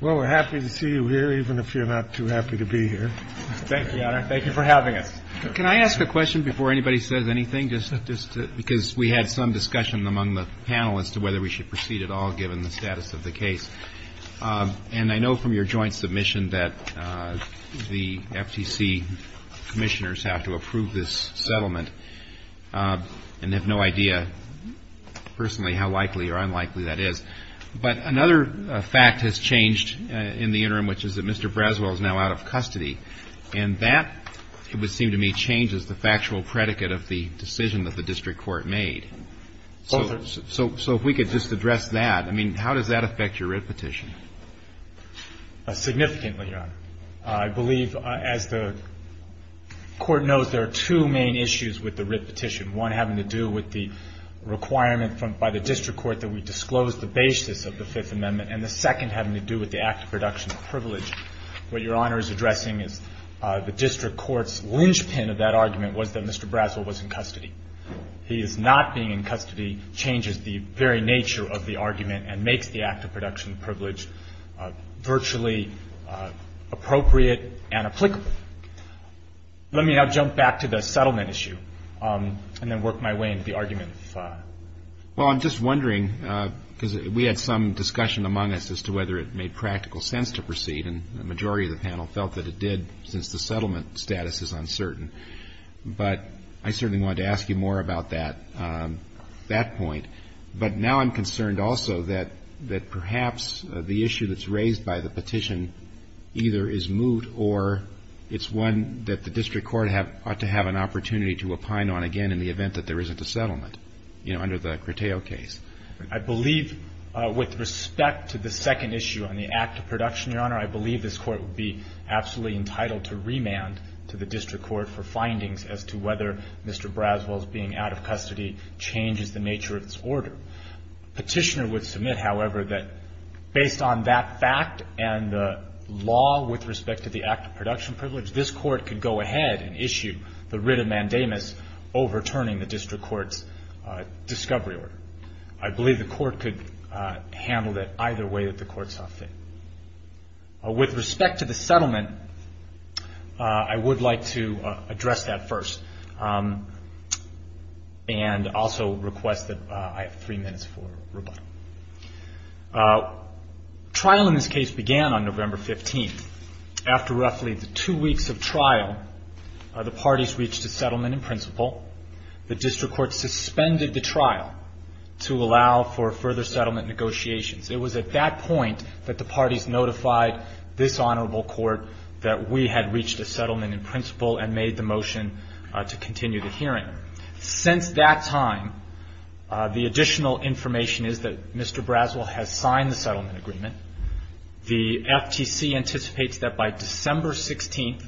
Well, we're happy to see you here, even if you're not too happy to be here. Thank you, Your Honor. Thank you for having us. Can I ask a question before anybody says anything? Just because we had some discussion among the panel as to whether we should proceed at all, given the status of the case. And I know from your joint submission that the FTC commissioners have to approve this settlement and have no idea personally how likely or unlikely that is. But another fact has changed in the interim, which is that Mr. Braswell is now out of custody. And that, it would seem to me, changes the factual predicate of the decision that the district court made. So if we could just address that. I mean, how does that affect your writ petition? Significantly, Your Honor. I believe, as the Court knows, there are two main issues with the writ petition, one having to do with the requirement by the district court that we disclose the basis of the Fifth Amendment, and the second having to do with the act of production of privilege. What Your Honor is addressing is the district court's linchpin of that argument was that Mr. Braswell was in custody. He is not being in custody changes the very nature of the argument and makes the act of production of privilege virtually appropriate and applicable. Let me now jump back to the settlement issue and then work my way into the argument. Well, I'm just wondering, because we had some discussion among us as to whether it made practical sense to proceed, and the majority of the panel felt that it did since the settlement status is uncertain. But I certainly wanted to ask you more about that, that point. But now I'm concerned also that perhaps the issue that's raised by the petition either is moot or it's one that the district court ought to have an opportunity to opine on again in the event that there isn't a settlement, you know, under the Criteo case. I believe with respect to the second issue on the act of production, Your Honor, I believe this Court would be absolutely entitled to remand to the district court for findings as to whether Mr. Petitioner would submit, however, that based on that fact and the law with respect to the act of production privilege, this Court could go ahead and issue the writ of mandamus overturning the district court's discovery order. I believe the Court could handle that either way that the Court saw fit. With respect to the settlement, I would like to address that first and also request that I have three minutes for rebuttal. Trial in this case began on November 15th. After roughly two weeks of trial, the parties reached a settlement in principle. The district court suspended the trial to allow for further settlement negotiations. It was at that point that the parties notified this honorable court that we had reached a settlement in principle and made the motion to continue the hearing. Since that time, the additional information is that Mr. Braswell has signed the settlement agreement. The FTC anticipates that by December 16th,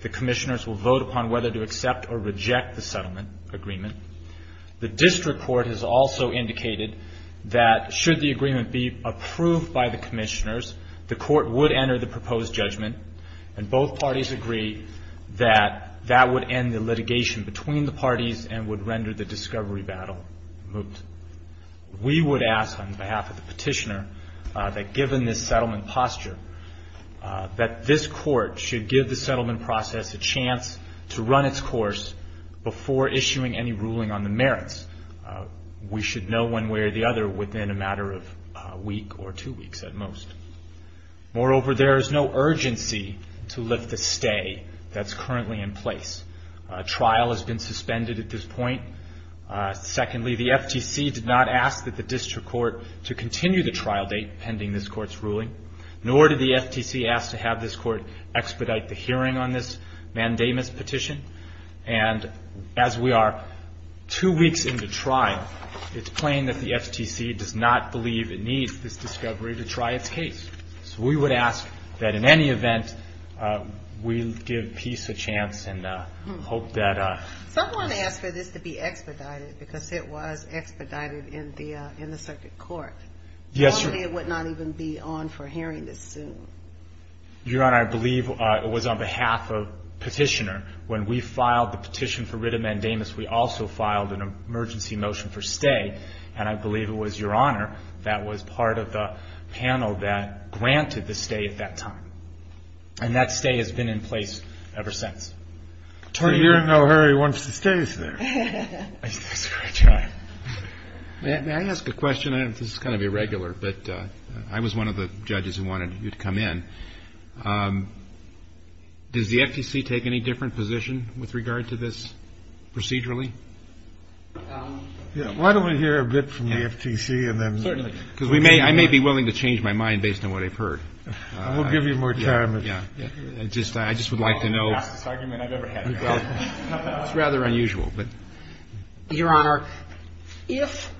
the commissioners will vote upon whether to accept or reject the settlement agreement. The district court has also indicated that should the agreement be approved by the commissioners, the court would enter the proposed judgment and both parties agree that that would end the litigation between the parties and would render the discovery battle moot. We would ask on behalf of the petitioner that given this settlement posture, that this court should give the settlement process a chance to run its course before issuing any ruling on the merits. We should know one way or the other within a matter of a week or two weeks at most. Moreover, there is no urgency to lift the stay that's currently in place. A trial has been suspended at this point. Secondly, the FTC did not ask that the district court to continue the trial date pending this court's ruling, nor did the FTC ask to have this court expedite the hearing on this mandamus petition. And as we are two weeks into trial, it's plain that the FTC does not believe it needs this discovery to try its case. So we would ask that in any event, we give peace a chance and hope that... Someone asked for this to be expedited because it was expedited in the circuit court. Yes, Your Honor. Probably it would not even be on for hearing this soon. Your Honor, I believe it was on behalf of petitioner. When we filed the petition for writ of mandamus, we also filed an emergency motion for stay, and I believe it was Your Honor that was part of the panel that granted the stay at that time. And that stay has been in place ever since. So you're in no hurry once the stay is there. That's right. May I ask a question? This is kind of irregular, but I was one of the judges who wanted you to come in. Does the FTC take any different position with regard to this procedurally? Why don't we hear a bit from the FTC and then... Certainly. Because I may be willing to change my mind based on what I've heard. We'll give you more time. I just would like to know... That's the fastest argument I've ever had. It's rather unusual, but... Your Honor, if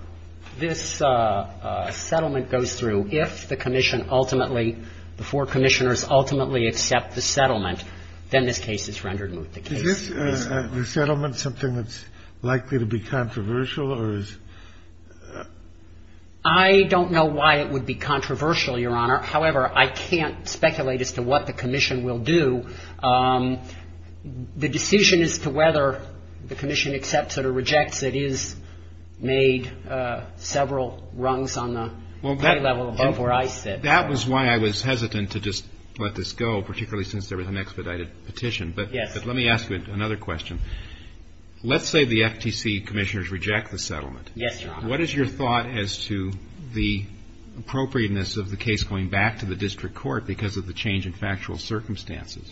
this settlement goes through, if the commission ultimately, the four commissioners ultimately accept the settlement, then this case is rendered moot. Is this resettlement something that's likely to be controversial or is... I don't know why it would be controversial, Your Honor. However, I can't speculate as to what the commission will do. The decision as to whether the commission accepts it or rejects it is made several rungs on the play level above where I sit. That was why I was hesitant to just let this go, particularly since there was an expedited petition. Yes. But let me ask you another question. Let's say the FTC commissioners reject the settlement. Yes, Your Honor. What is your thought as to the appropriateness of the case going back to the district court because of the change in factual circumstances?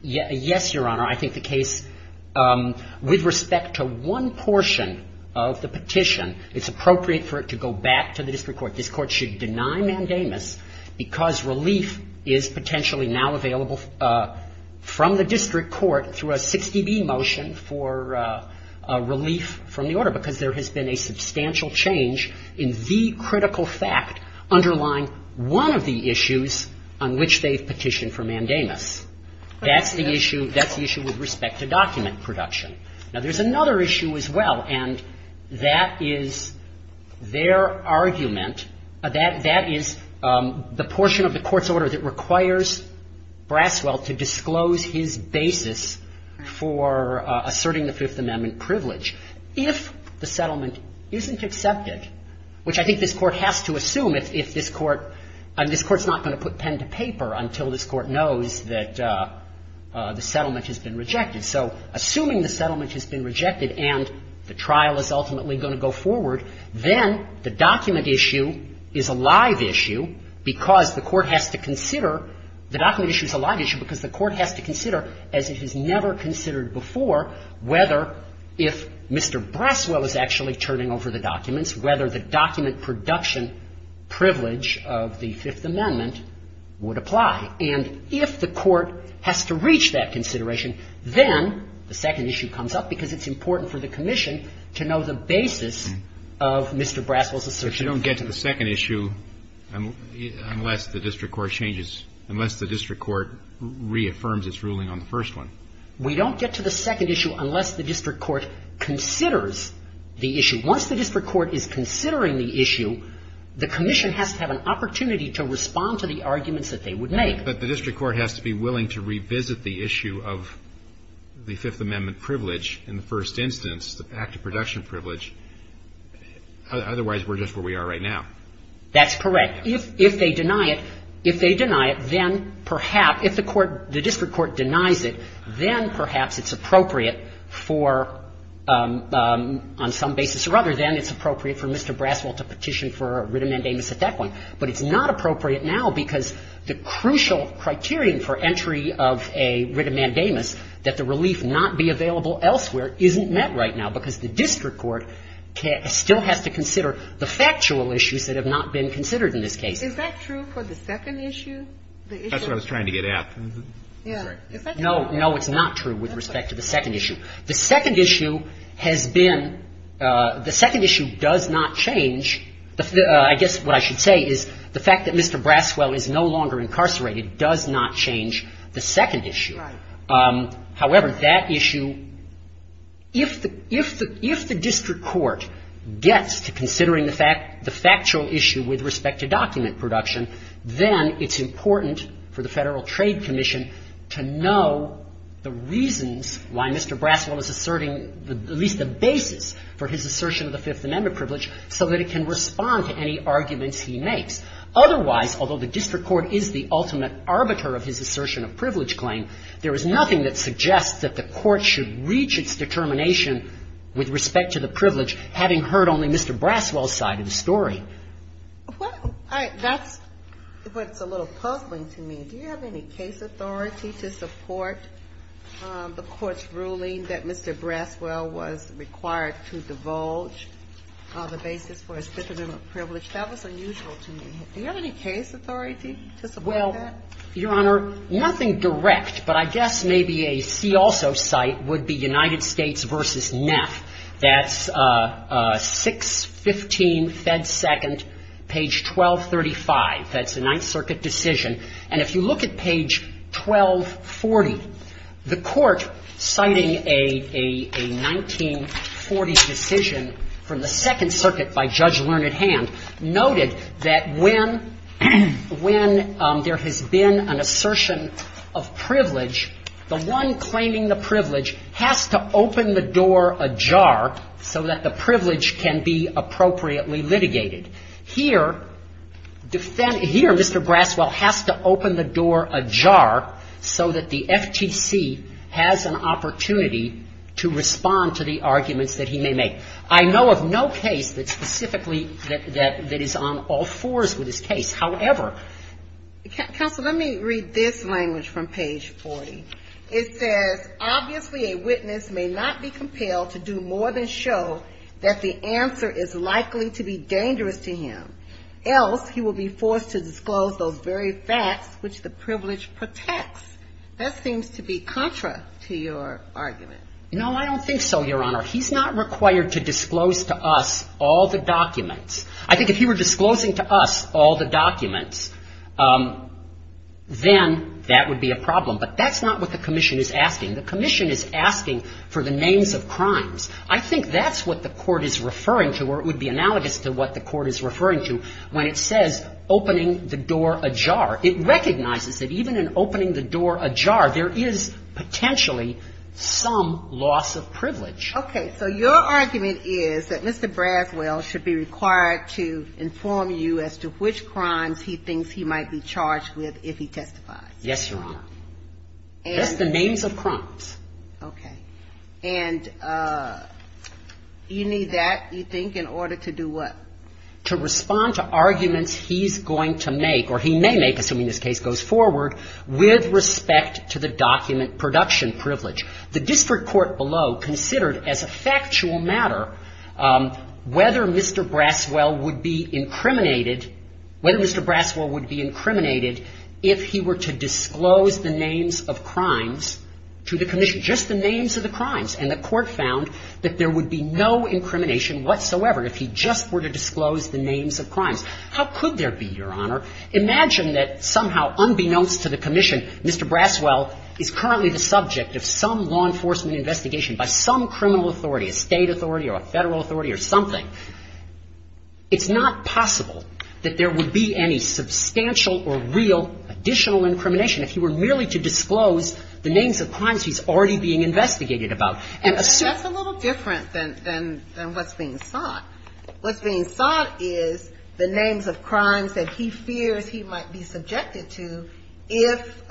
Yes, Your Honor. I think the case, with respect to one portion of the petition, it's appropriate for it to go back to the district court. This court should deny mandamus because relief is potentially now available from the district court through a 60B motion for relief from the order because there has been a petition for mandamus. That's the issue with respect to document production. Now, there's another issue as well, and that is their argument. That is the portion of the court's order that requires Braswell to disclose his basis for asserting the Fifth Amendment privilege. If the settlement isn't accepted, which I think this court has to assume if this court's not going to put pen to paper until this court knows that the settlement has been rejected. So assuming the settlement has been rejected and the trial is ultimately going to go forward, then the document issue is a live issue because the court has to consider the document issue is a live issue because the court has to consider, as it has never considered before, whether if Mr. Braswell is actually turning over the documents, whether the document production privilege of the Fifth Amendment would apply. And if the court has to reach that consideration, then the second issue comes up because it's important for the commission to know the basis of Mr. Braswell's assertion. But you don't get to the second issue unless the district court changes, unless the district court reaffirms its ruling on the first one. We don't get to the second issue unless the district court considers the issue. Once the district court is considering the issue, the commission has to have an opportunity to respond to the arguments that they would make. But the district court has to be willing to revisit the issue of the Fifth Amendment privilege in the first instance, the active production privilege. Otherwise, we're just where we are right now. That's correct. If they deny it, if they deny it, then perhaps if the court, the district court denies it, then perhaps it's appropriate for, on some basis or other, then it's appropriate for Mr. Braswell to petition for a writ of mandamus at that point. But it's not appropriate now because the crucial criterion for entry of a writ of mandamus, that the relief not be available elsewhere, isn't met right now because the district court still has to consider the factual issues that have not been considered in this case. Is that true for the second issue? That's what I was trying to get at. No. No, it's not true with respect to the second issue. The second issue has been the second issue does not change. I guess what I should say is the fact that Mr. Braswell is no longer incarcerated does not change the second issue. Right. However, that issue, if the district court gets to considering the factual issue with respect to document production, then it's important for the Federal Trade Commission to know the reasons why Mr. Braswell is asserting at least the basis for his assertion of the Fifth Amendment privilege so that it can respond to any arguments he makes. Otherwise, although the district court is the ultimate arbiter of his assertion of privilege claim, there is nothing that suggests that the court should reach its determination with respect to the privilege having heard only Mr. Braswell's side of the story. Well, that's what's a little puzzling to me. Do you have any case authority to support the court's ruling that Mr. Braswell was required to divulge the basis for his Fifth Amendment privilege? That was unusual to me. Do you have any case authority to support that? Well, Your Honor, nothing direct, but I guess maybe a see-also site would be United States v. Neff. That's 615 Fed Second, page 1235. That's the Ninth Circuit decision. And if you look at page 1240, the court, citing a 1940 decision from the Second Circuit by Judge Learned Hand, noted that when there has been an assertion of privilege, the one claiming the privilege has to open the door ajar so that the privilege can be appropriately litigated. Here, Mr. Braswell has to open the door ajar so that the FTC has an opportunity to respond to the arguments that he may make. I know of no case that specifically that is on all fours with this case. However... Counsel, let me read this language from page 40. It says, obviously a witness may not be compelled to do more than show that the answer is likely to be dangerous to him, else he will be forced to disclose those very facts which the privilege protects. That seems to be contra to your argument. No, I don't think so, Your Honor. He's not required to disclose to us all the documents. I think if he were disclosing to us all the documents, then that would be a problem. But that's not what the commission is asking. The commission is asking for the names of crimes. I think that's what the court is referring to, or it would be analogous to what the court is referring to, when it says opening the door ajar. It recognizes that even in opening the door ajar, there is potentially some loss of privilege. Okay. So your argument is that Mr. Braswell should be required to inform you as to which crimes he thinks he might be charged with if he testifies. Yes, Your Honor. That's the names of crimes. Okay. And you need that, you think, in order to do what? To respond to arguments he's going to make, or he may make, assuming this case goes forward, with respect to the document production privilege. The district court below considered as a factual matter whether Mr. Braswell would be incriminated, whether Mr. Braswell would be incriminated if he were to disclose the names of crimes to the commission, just the names of the crimes. And the court found that there would be no incrimination whatsoever if he just were to disclose the names of crimes. How could there be, Your Honor? Imagine that somehow, unbeknownst to the commission, Mr. Braswell is currently the subject of some law enforcement investigation by some criminal authority, a State authority or a Federal authority or something. It's not possible that there would be any substantial or real additional incrimination if he were merely to disclose the names of crimes he's already being investigated about. And so that's a little different than what's being sought. What's being sought is the names of crimes that he fears he might be subjected to if,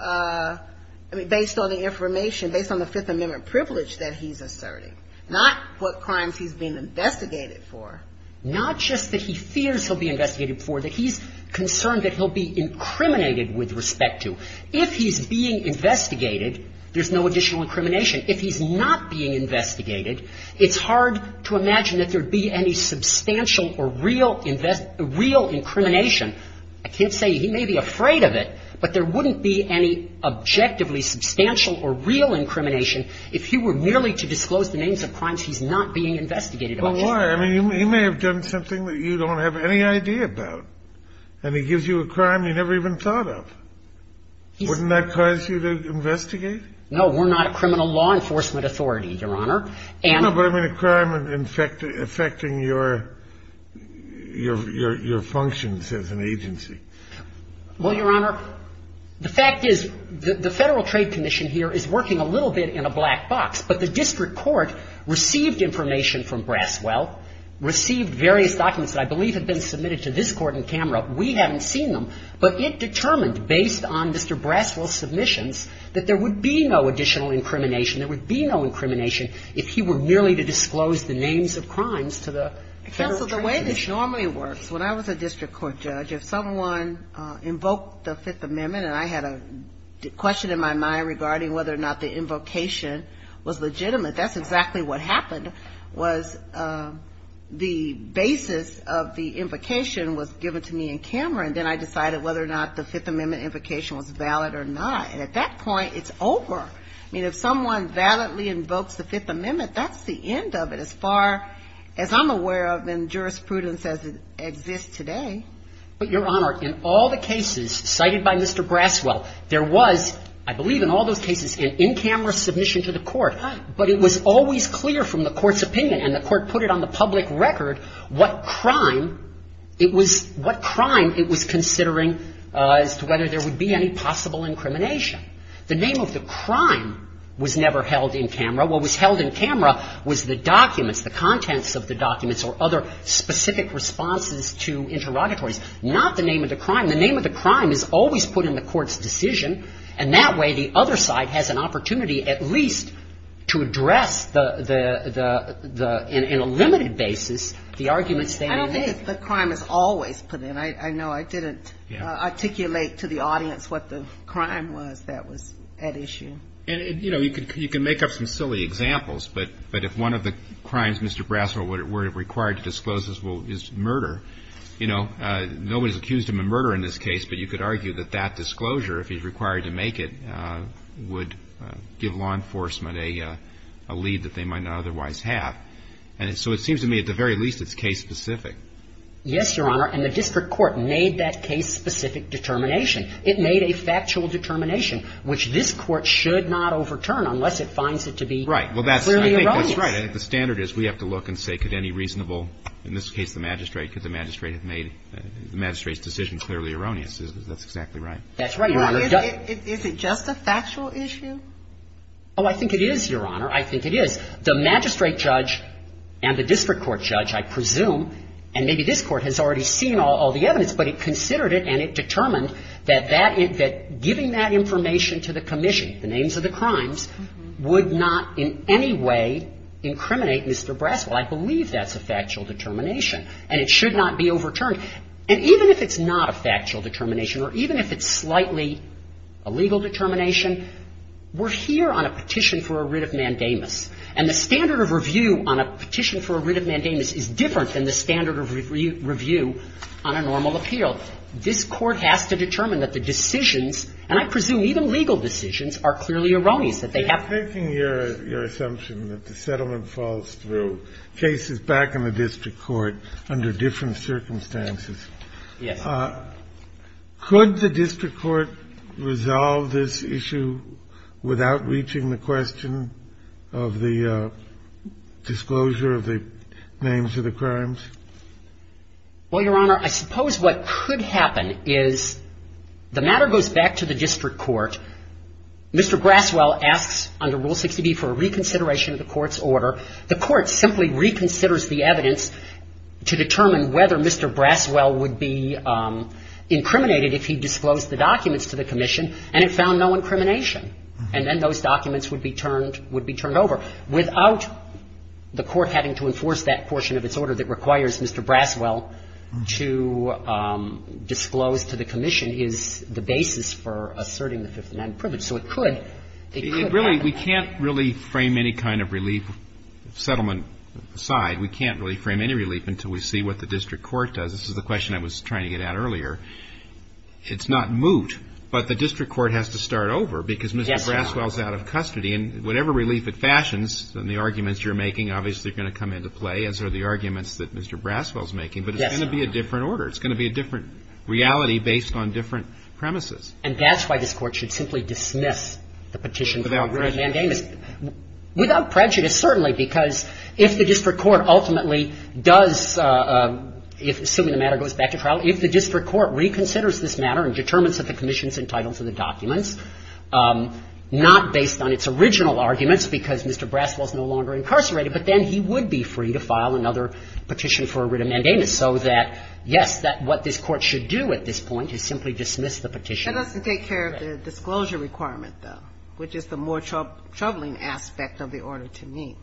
based on the information, based on the Fifth Amendment privilege that he's asserting, not what crimes he's being investigated for. Not just that he fears he'll be investigated for, that he's concerned that he'll be incriminated with respect to. If he's being investigated, there's no additional incrimination. If he's not being investigated, it's hard to imagine that there would be any substantial or real incrimination. I can't say he may be afraid of it, but there wouldn't be any objectively substantial or real incrimination if he were merely to disclose the names of crimes he's not being investigated about. Well, why? I mean, he may have done something that you don't have any idea about, and he gives you a crime you never even thought of. Wouldn't that cause you to investigate? No. We're not a criminal law enforcement authority, Your Honor. No, but I mean a crime affecting your functions as an agency. Well, Your Honor, the fact is the Federal Trade Commission here is working a little bit in a black box. But the district court received information from Braswell, received various documents that I believe have been submitted to this Court on camera. We haven't seen them. But it determined, based on Mr. Braswell's submissions, that there would be no additional incrimination. There would be no incrimination if he were merely to disclose the names of crimes to the Federal Trade Commission. Counsel, the way this normally works, when I was a district court judge, if someone invoked the Fifth Amendment, and I had a question in my mind regarding whether or not the invocation was legitimate, that's exactly what happened, was the basis of the invocation was given to me in camera, and then I decided whether or not the Fifth Amendment invocation was valid or not. And at that point, it's over. I mean, if someone validly invokes the Fifth Amendment, that's the end of it as far as I'm aware of in jurisprudence as it exists today. But, Your Honor, in all the cases cited by Mr. Braswell, there was, I believe in all those cases, an in-camera submission to the Court. But it was always clear from the Court's opinion, and the Court put it on the public record, what crime it was considering as to whether there would be any possible incrimination. The name of the crime was never held in camera. What was held in camera was the documents, the contents of the documents or other specific responses to interrogatories, not the name of the crime. The name of the crime is always put in the Court's decision, and that way the other side has an opportunity at least to address the – in a limited basis the arguments they make. I think the crime is always put in. I know I didn't articulate to the audience what the crime was that was at issue. And, you know, you can make up some silly examples, but if one of the crimes Mr. Braswell were required to disclose is murder, you know, nobody's accused him of murder in this case, but you could argue that that disclosure, if he's required to make it, would give law enforcement a lead that they might not otherwise have. And so it seems to me at the very least it's case-specific. Yes, Your Honor. And the district court made that case-specific determination. It made a factual determination, which this Court should not overturn unless it finds it to be clearly erroneous. Right. Well, that's – I think that's right. I think the standard is we have to look and say could any reasonable – in this case the magistrate, because the magistrate has made – the magistrate's decision clearly erroneous. That's exactly right. That's right, Your Honor. Is it just a factual issue? Oh, I think it is, Your Honor. I think it is. The magistrate judge and the district court judge, I presume, and maybe this Court has already seen all the evidence, but it considered it and it determined that that – that giving that information to the commission, the names of the crimes, would not in any way incriminate Mr. Braswell. I believe that's a factual determination, and it should not be overturned. And even if it's not a factual determination or even if it's slightly a legal determination, we're here on a petition for a writ of mandamus. And the standard of review on a petition for a writ of mandamus is different than the standard of review on a normal appeal. This Court has to determine that the decisions, and I presume even legal decisions, are clearly erroneous, that they have to be. You're making your assumption that the settlement falls through. The case is back in the district court under different circumstances. Yes. Could the district court resolve this issue without reaching the question of the disclosure of the names of the crimes? Well, Your Honor, I suppose what could happen is the matter goes back to the district court. Mr. Braswell asks under Rule 60b for a reconsideration of the Court's order. The Court simply reconsiders the evidence to determine whether Mr. Braswell would be incriminated if he disclosed the documents to the commission and it found no incrimination. And then those documents would be turned over. Without the Court having to enforce that portion of its order that requires Mr. Braswell to disclose to the commission is the basis for asserting the Fifth Amendment privilege. So it could happen. We can't really frame any kind of relief settlement aside. We can't really frame any relief until we see what the district court does. This is the question I was trying to get at earlier. It's not moot, but the district court has to start over because Mr. Braswell is out of custody. And whatever relief it fashions and the arguments you're making obviously are going to come into play, as are the arguments that Mr. Braswell is making. Yes, Your Honor. But it's going to be a different order. It's going to be a different reality based on different premises. And that's why this Court should simply dismiss the petition without really mandating this. Without prejudice. Yes, certainly, because if the district court ultimately does, assuming the matter goes back to trial, if the district court reconsiders this matter and determines that the commission is entitled to the documents, not based on its original arguments because Mr. Braswell is no longer incarcerated, but then he would be free to file another petition for a writ of mandamus. So that, yes, what this Court should do at this point is simply dismiss the petition. That doesn't take care of the disclosure requirement, though, which is the more troubling aspect of the order to me.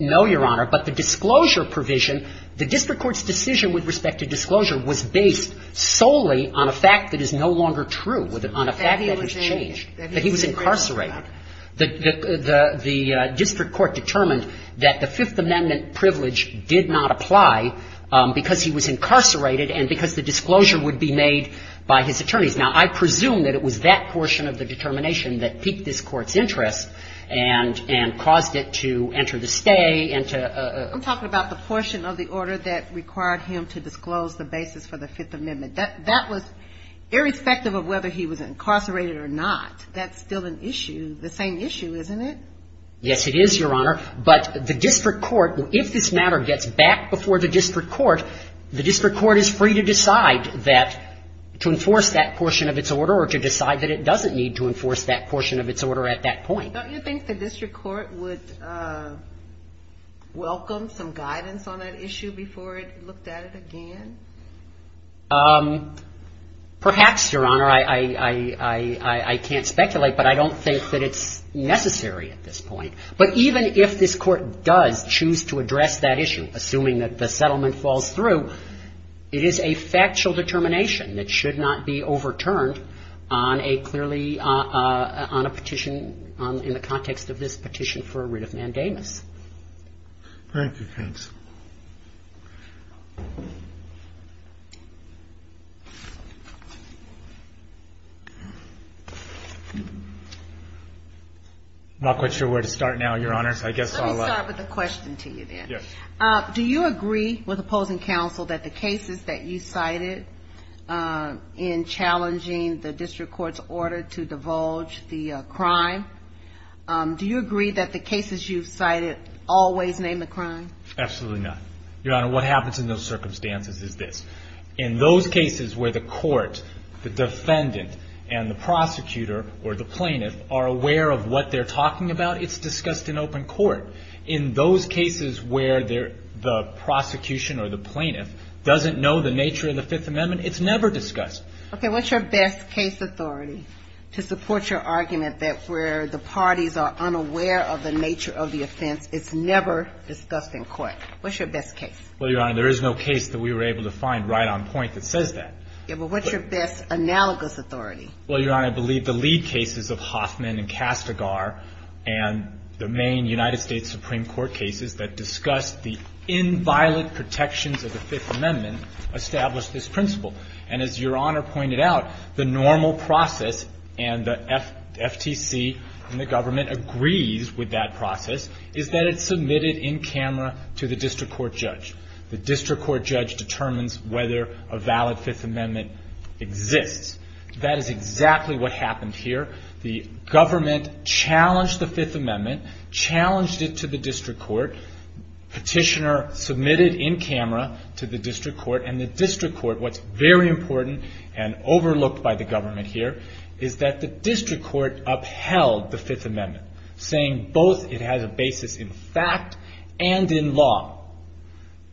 No, Your Honor. But the disclosure provision, the district court's decision with respect to disclosure was based solely on a fact that is no longer true, on a fact that has changed, that he was incarcerated. The district court determined that the Fifth Amendment privilege did not apply because he was incarcerated and because the disclosure would be made by his attorneys. Now, I presume that it was that portion of the determination that piqued this court's interest and caused it to enter the stay and to — I'm talking about the portion of the order that required him to disclose the basis for the Fifth Amendment. That was, irrespective of whether he was incarcerated or not, that's still an issue, the same issue, isn't it? Yes, it is, Your Honor. But the district court, if this matter gets back before the district court, the district court is free to decide that, to enforce that portion of its order or to decide that it doesn't need to enforce that portion of its order at that point. Don't you think the district court would welcome some guidance on that issue before it looked at it again? Perhaps, Your Honor. I can't speculate, but I don't think that it's necessary at this point. But even if this court does choose to address that issue, assuming that the settlement falls through, it is a factual determination that should not be overturned on a clearly — on a petition in the context of this petition for a writ of mandamus. Thank you. Thanks. I'm not quite sure where to start now, Your Honors. I guess I'll — Let me start with a question to you, then. Yes. Do you agree with opposing counsel that the cases that you cited in challenging the district court's order to divulge the crime, do you agree that the cases you've cited always name the crime? Absolutely not. Your Honor, what happens in those circumstances is this. In those cases where the court, the defendant, and the prosecutor or the plaintiff are aware of what they're talking about, it's discussed in open court. In those cases where the prosecution or the plaintiff doesn't know the nature of the Fifth Amendment, it's never discussed. Okay. What's your best case authority to support your argument that where the parties are unaware of the nature of the offense, it's never discussed in court? What's your best case? Well, Your Honor, there is no case that we were able to find right on point that says that. Yeah, but what's your best analogous authority? Well, Your Honor, I believe the lead cases of Hoffman and Castagar and the main United States Supreme Court cases that discussed the inviolate protections of the Fifth Amendment established this principle. And as Your Honor pointed out, the normal process, and the FTC and the government agrees with that process, is that it's submitted in camera to the district court judge. The district court judge determines whether a valid Fifth Amendment exists. That is exactly what happened here. The government challenged the Fifth Amendment, challenged it to the district court. Petitioner submitted in camera to the district court. And the district court, what's very important and overlooked by the government here, is that the district court upheld the Fifth Amendment, saying both it has a basis in fact and in law.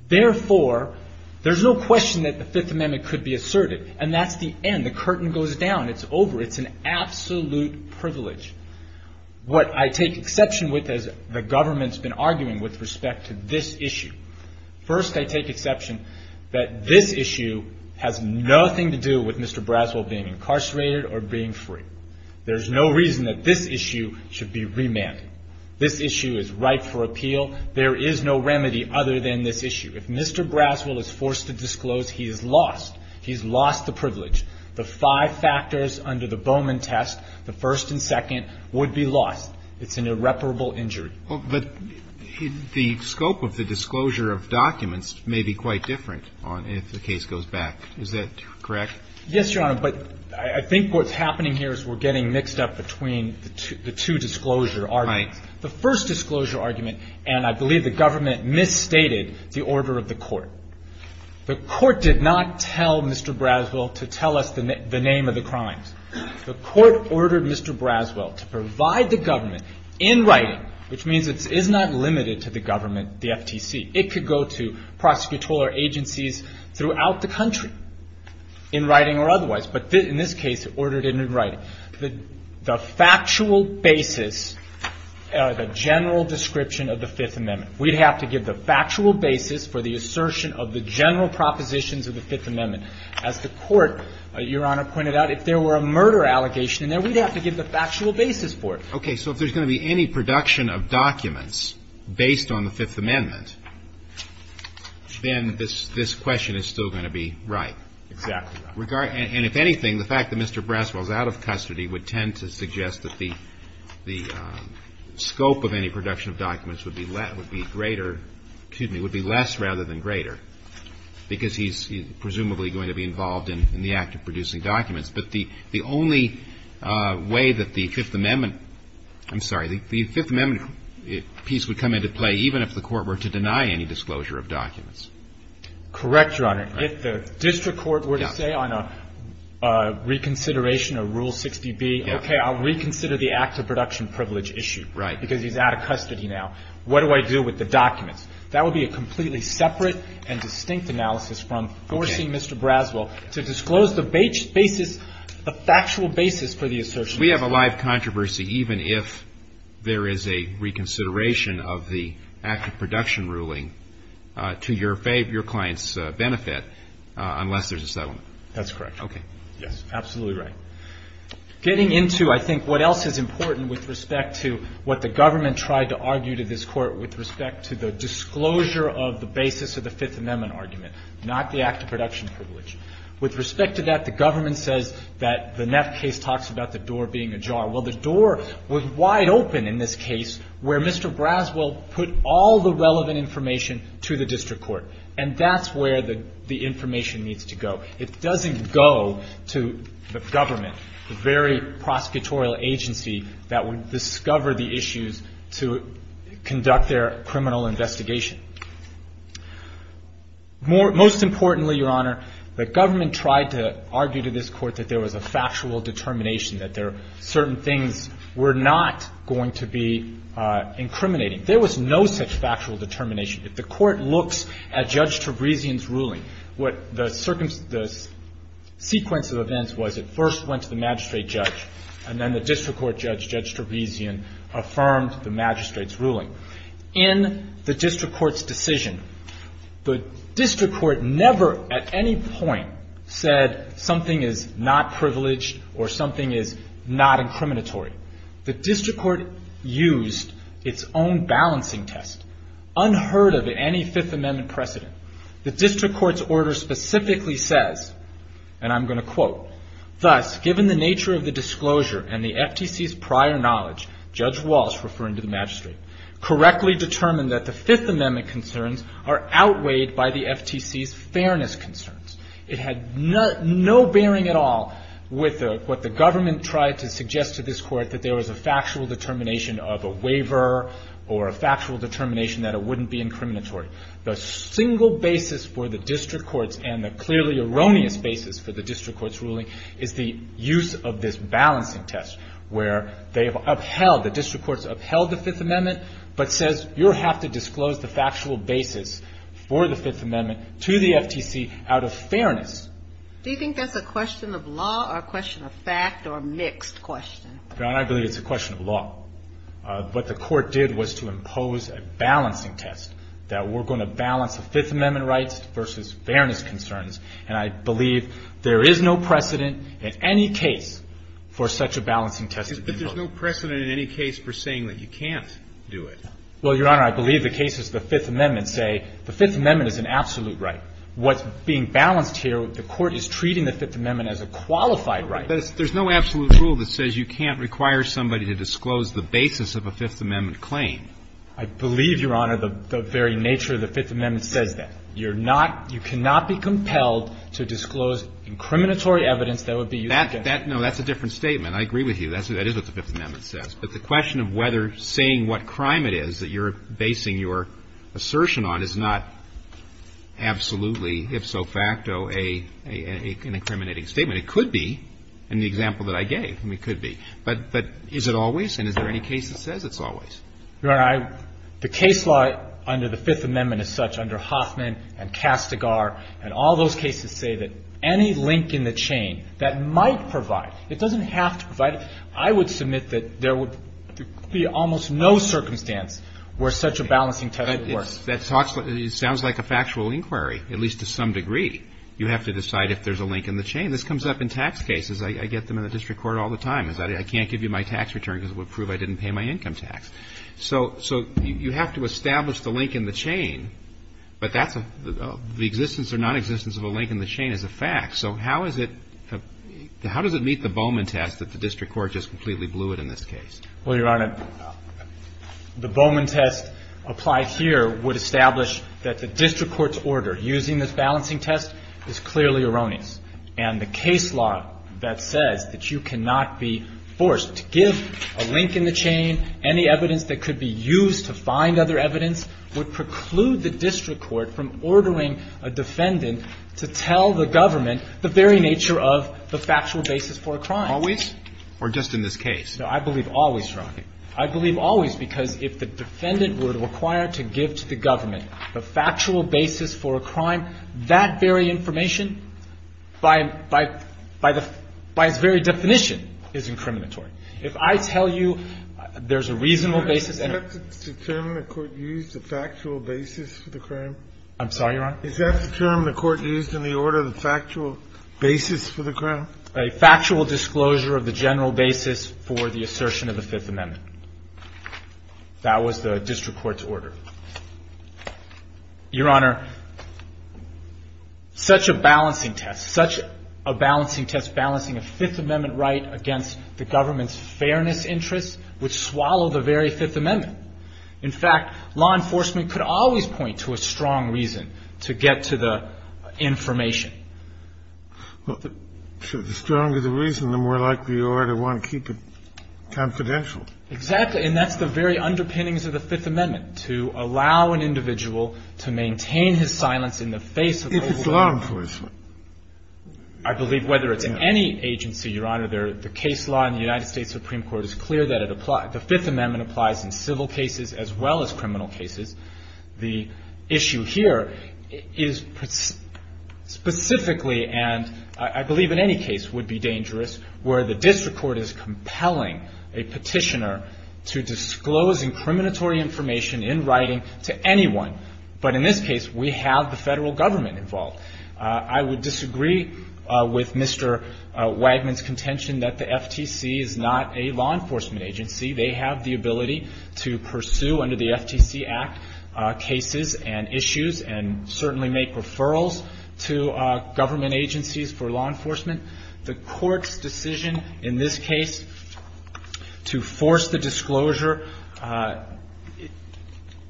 Therefore, there's no question that the Fifth Amendment could be asserted. And that's the end. When the curtain goes down, it's over. It's an absolute privilege. What I take exception with, as the government's been arguing with respect to this issue. First, I take exception that this issue has nothing to do with Mr. Braswell being incarcerated or being free. There's no reason that this issue should be remanded. This issue is ripe for appeal. There is no remedy other than this issue. If Mr. Braswell is forced to disclose, he is lost. He's lost the privilege. The five factors under the Bowman test, the first and second, would be lost. It's an irreparable injury. But the scope of the disclosure of documents may be quite different if the case goes back. Is that correct? Yes, Your Honor. But I think what's happening here is we're getting mixed up between the two disclosure arguments. Right. The first disclosure argument, and I believe the government misstated the order of the court. The court did not tell Mr. Braswell to tell us the name of the crimes. The court ordered Mr. Braswell to provide the government in writing, which means it is not limited to the government, the FTC. It could go to prosecutorial agencies throughout the country in writing or otherwise. But in this case, it ordered it in writing. The factual basis, the general description of the Fifth Amendment, we'd have to give the factual basis for the assertion of the general propositions of the Fifth Amendment. As the court, Your Honor, pointed out, if there were a murder allegation in there, we'd have to give the factual basis for it. Okay. So if there's going to be any production of documents based on the Fifth Amendment, then this question is still going to be right. Exactly right. And if anything, the fact that Mr. Braswell is out of custody would tend to suggest that the scope of any production of documents would be greater, excuse me, would be less rather than greater, because he's presumably going to be involved in the act of producing documents. But the only way that the Fifth Amendment – I'm sorry, the Fifth Amendment piece would come into play even if the court were to deny any disclosure of documents. Correct, Your Honor. If the district court were to say on a reconsideration of Rule 60B, okay, I'll reconsider the act of production privilege issue. Right. Because he's out of custody now. What do I do with the documents? That would be a completely separate and distinct analysis from forcing Mr. Braswell to disclose the basis, the factual basis for the assertion. We have a live controversy even if there is a reconsideration of the act of production ruling to your client's benefit unless there's a settlement. That's correct. Okay. Yes, absolutely right. Getting into, I think, what else is important with respect to what the government tried to argue to this Court with respect to the disclosure of the basis of the Fifth Amendment argument, not the act of production privilege. With respect to that, the government says that the Neff case talks about the door being ajar. Well, the door was wide open in this case where Mr. Braswell put all the relevant information to the district court. And that's where the information needs to go. It doesn't go to the government, the very prosecutorial agency that would discover the issues to conduct their criminal investigation. Most importantly, Your Honor, the government tried to argue to this Court that there was a factual determination that certain things were not going to be incriminating. There was no such factual determination. If the Court looks at Judge Trebizion's ruling, what the sequence of events was, it first went to the magistrate judge. And then the district court judge, Judge Trebizion, affirmed the magistrate's ruling. In the district court's decision, the district court never at any point said something is not privileged or something is not incriminatory. The district court used its own balancing test, unheard of in any Fifth Amendment precedent. The district court's order specifically says, and I'm going to quote, Thus, given the nature of the disclosure and the FTC's prior knowledge, Judge Walsh, referring to the magistrate, correctly determined that the Fifth Amendment concerns are outweighed by the FTC's fairness concerns. It had no bearing at all with what the government tried to suggest to this court, that there was a factual determination of a waiver or a factual determination that it wouldn't be incriminatory. The single basis for the district court's and the clearly erroneous basis for the district court's ruling is the use of this balancing test, where they have upheld, the district court's upheld the Fifth Amendment, but says you'll have to disclose the factual basis for the Fifth Amendment to the FTC out of fairness. Do you think that's a question of law or a question of fact or a mixed question? Your Honor, I believe it's a question of law. What the court did was to impose a balancing test, that we're going to balance the Fifth Amendment rights versus fairness concerns, and I believe there is no precedent in any case for such a balancing test to be imposed. But there's no precedent in any case for saying that you can't do it. Well, Your Honor, I believe the cases of the Fifth Amendment say the Fifth Amendment is an absolute right. What's being balanced here, the court is treating the Fifth Amendment as a qualified right. But there's no absolute rule that says you can't require somebody to disclose the basis of a Fifth Amendment claim. I believe, Your Honor, the very nature of the Fifth Amendment says that. You're not, you cannot be compelled to disclose incriminatory evidence that would be used against you. That, no, that's a different statement. I agree with you. That is what the Fifth Amendment says. But the question of whether saying what crime it is that you're basing your assertion on is not absolutely, if so facto, an incriminating statement. It could be in the example that I gave. I mean, it could be. But is it always? And is there any case that says it's always? Your Honor, the case law under the Fifth Amendment is such under Hoffman and Castigar and all those cases say that any link in the chain that might provide, it doesn't have to provide. I would submit that there would be almost no circumstance where such a balancing test would work. But that talks, it sounds like a factual inquiry, at least to some degree. You have to decide if there's a link in the chain. This comes up in tax cases. I get them in the district court all the time. I can't give you my tax return because it would prove I didn't pay my income tax. So you have to establish the link in the chain. But that's a, the existence or nonexistence of a link in the chain is a fact. So how is it, how does it meet the Bowman test that the district court just completely blew it in this case? Well, Your Honor, the Bowman test applied here would establish that the district court's order using this balancing test is clearly erroneous. And the case law that says that you cannot be forced to give a link in the chain, any evidence that could be used to find other evidence would preclude the district court from ordering a defendant to tell the government the very nature of the factual basis for a crime. Or just in this case? No, I believe always, Your Honor. I believe always because if the defendant were required to give to the government the factual basis for a crime, that very information by, by, by the, by its very definition is incriminatory. If I tell you there's a reasonable basis and the court used the factual basis for the crime. I'm sorry, Your Honor? Is that the term the court used in the order, the factual basis for the crime? A factual disclosure of the general basis for the assertion of the Fifth Amendment. That was the district court's order. Your Honor, such a balancing test, such a balancing test, balancing a Fifth Amendment right against the government's fairness interests would swallow the very Fifth Amendment. In fact, law enforcement could always point to a strong reason to get to the information. Well, the stronger the reason, the more likely you are to want to keep it confidential. Exactly. And that's the very underpinnings of the Fifth Amendment, to allow an individual to maintain his silence in the face of the whole thing. If it's law enforcement. I believe whether it's in any agency, Your Honor, the case law in the United States Supreme Court is clear that it applies. The Fifth Amendment applies in civil cases as well as criminal cases. The issue here is specifically, and I believe in any case would be dangerous, where the district court is compelling a petitioner to disclose incriminatory information in writing to anyone. But in this case, we have the federal government involved. I would disagree with Mr. Wagner's contention that the FTC is not a law enforcement agency. They have the ability to pursue under the FTC Act cases and issues and certainly make referrals to government agencies for law enforcement. The court's decision in this case to force the disclosure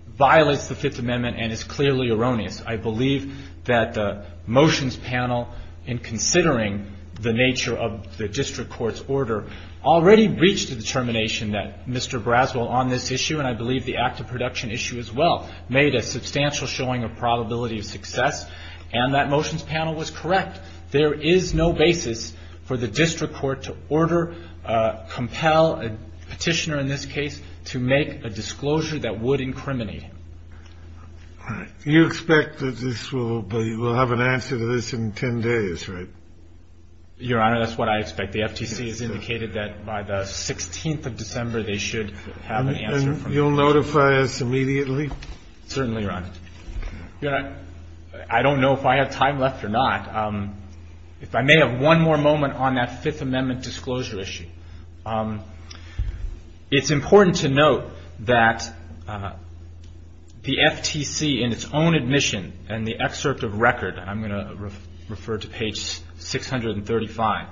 violates the Fifth Amendment and is clearly erroneous. I believe that the motions panel in considering the nature of the district court's determination that Mr. Braswell on this issue, and I believe the active production issue as well, made a substantial showing of probability of success. And that motions panel was correct. There is no basis for the district court to order, compel a petitioner in this case to make a disclosure that would incriminate him. All right. You expect that this will be we'll have an answer to this in 10 days, right? Your Honor, that's what I expect. The FTC has indicated that by the 16th of December they should have an answer. And you'll notify us immediately? Certainly, Your Honor. Your Honor, I don't know if I have time left or not. If I may have one more moment on that Fifth Amendment disclosure issue. It's important to note that the FTC in its own admission and the excerpt of record, I'm going to refer to page 635,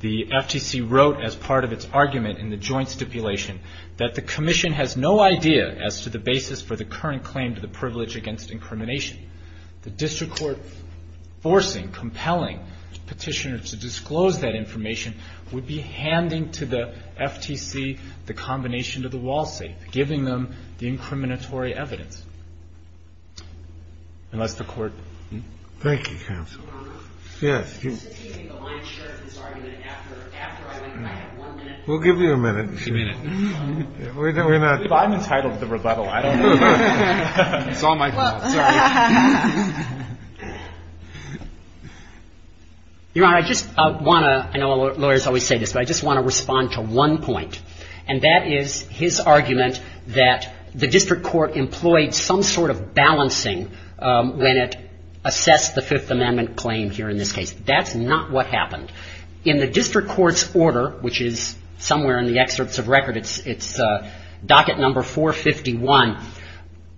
the FTC wrote as part of its argument in the joint stipulation that the commission has no idea as to the basis for the current claim to the privilege against incrimination. The district court forcing, compelling the petitioner to disclose that information would be handing to the FTC the combination of the wall safe, giving them the incriminatory evidence. And that's the court. Thank you, counsel. Your Honor. Yes. The line share of this argument after I have one minute. We'll give you a minute. Give me a minute. I'm entitled to the rebuttal. I don't know. It's all my fault. Sorry. Your Honor, I just want to, I know lawyers always say this, but I just want to respond to one point. And that is his argument that the district court employed some sort of balancing when it assessed the Fifth Amendment claim here in this case. That's not what happened. In the district court's order, which is somewhere in the excerpts of record, it's docket number 451,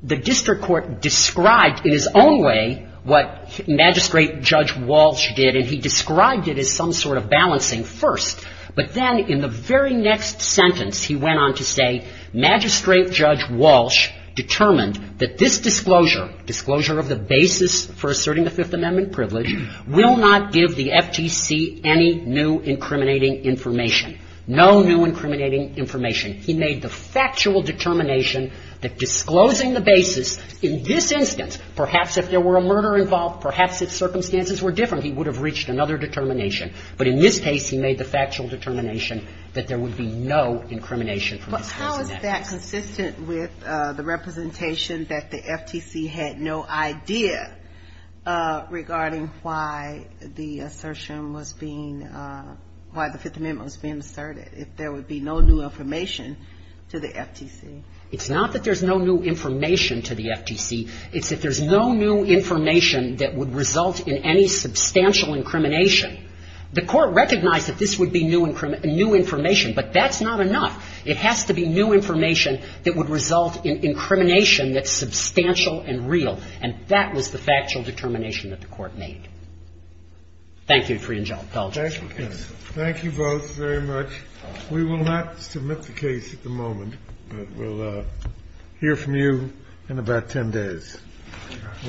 the district court described in its own way what Magistrate Judge Walsh did, and he described it as some sort of balancing first. But then in the very next sentence, he went on to say Magistrate Judge Walsh determined that this disclosure, disclosure of the basis for asserting the Fifth Amendment privilege, will not give the FTC any new incriminating information. No new incriminating information. He made the factual determination that disclosing the basis in this instance, perhaps if there were a murder involved, perhaps if circumstances were different, he would have reached another determination. But in this case, he made the factual determination that there would be no incrimination from disclosing that basis. But how is that consistent with the representation that the FTC had no idea regarding why the assertion was being, why the Fifth Amendment was being asserted, if there would be no new information to the FTC? It's not that there's no new information to the FTC. It's that there's no new information that would result in any substantial incrimination. The Court recognized that this would be new information, but that's not enough. It has to be new information that would result in incrimination that's substantial and real, and that was the factual determination that the Court made. Thank you, Free and Jolt. I apologize. Thank you, both, very much. We will not submit the case at the moment, but we'll hear from you in about 10 days. Thank you.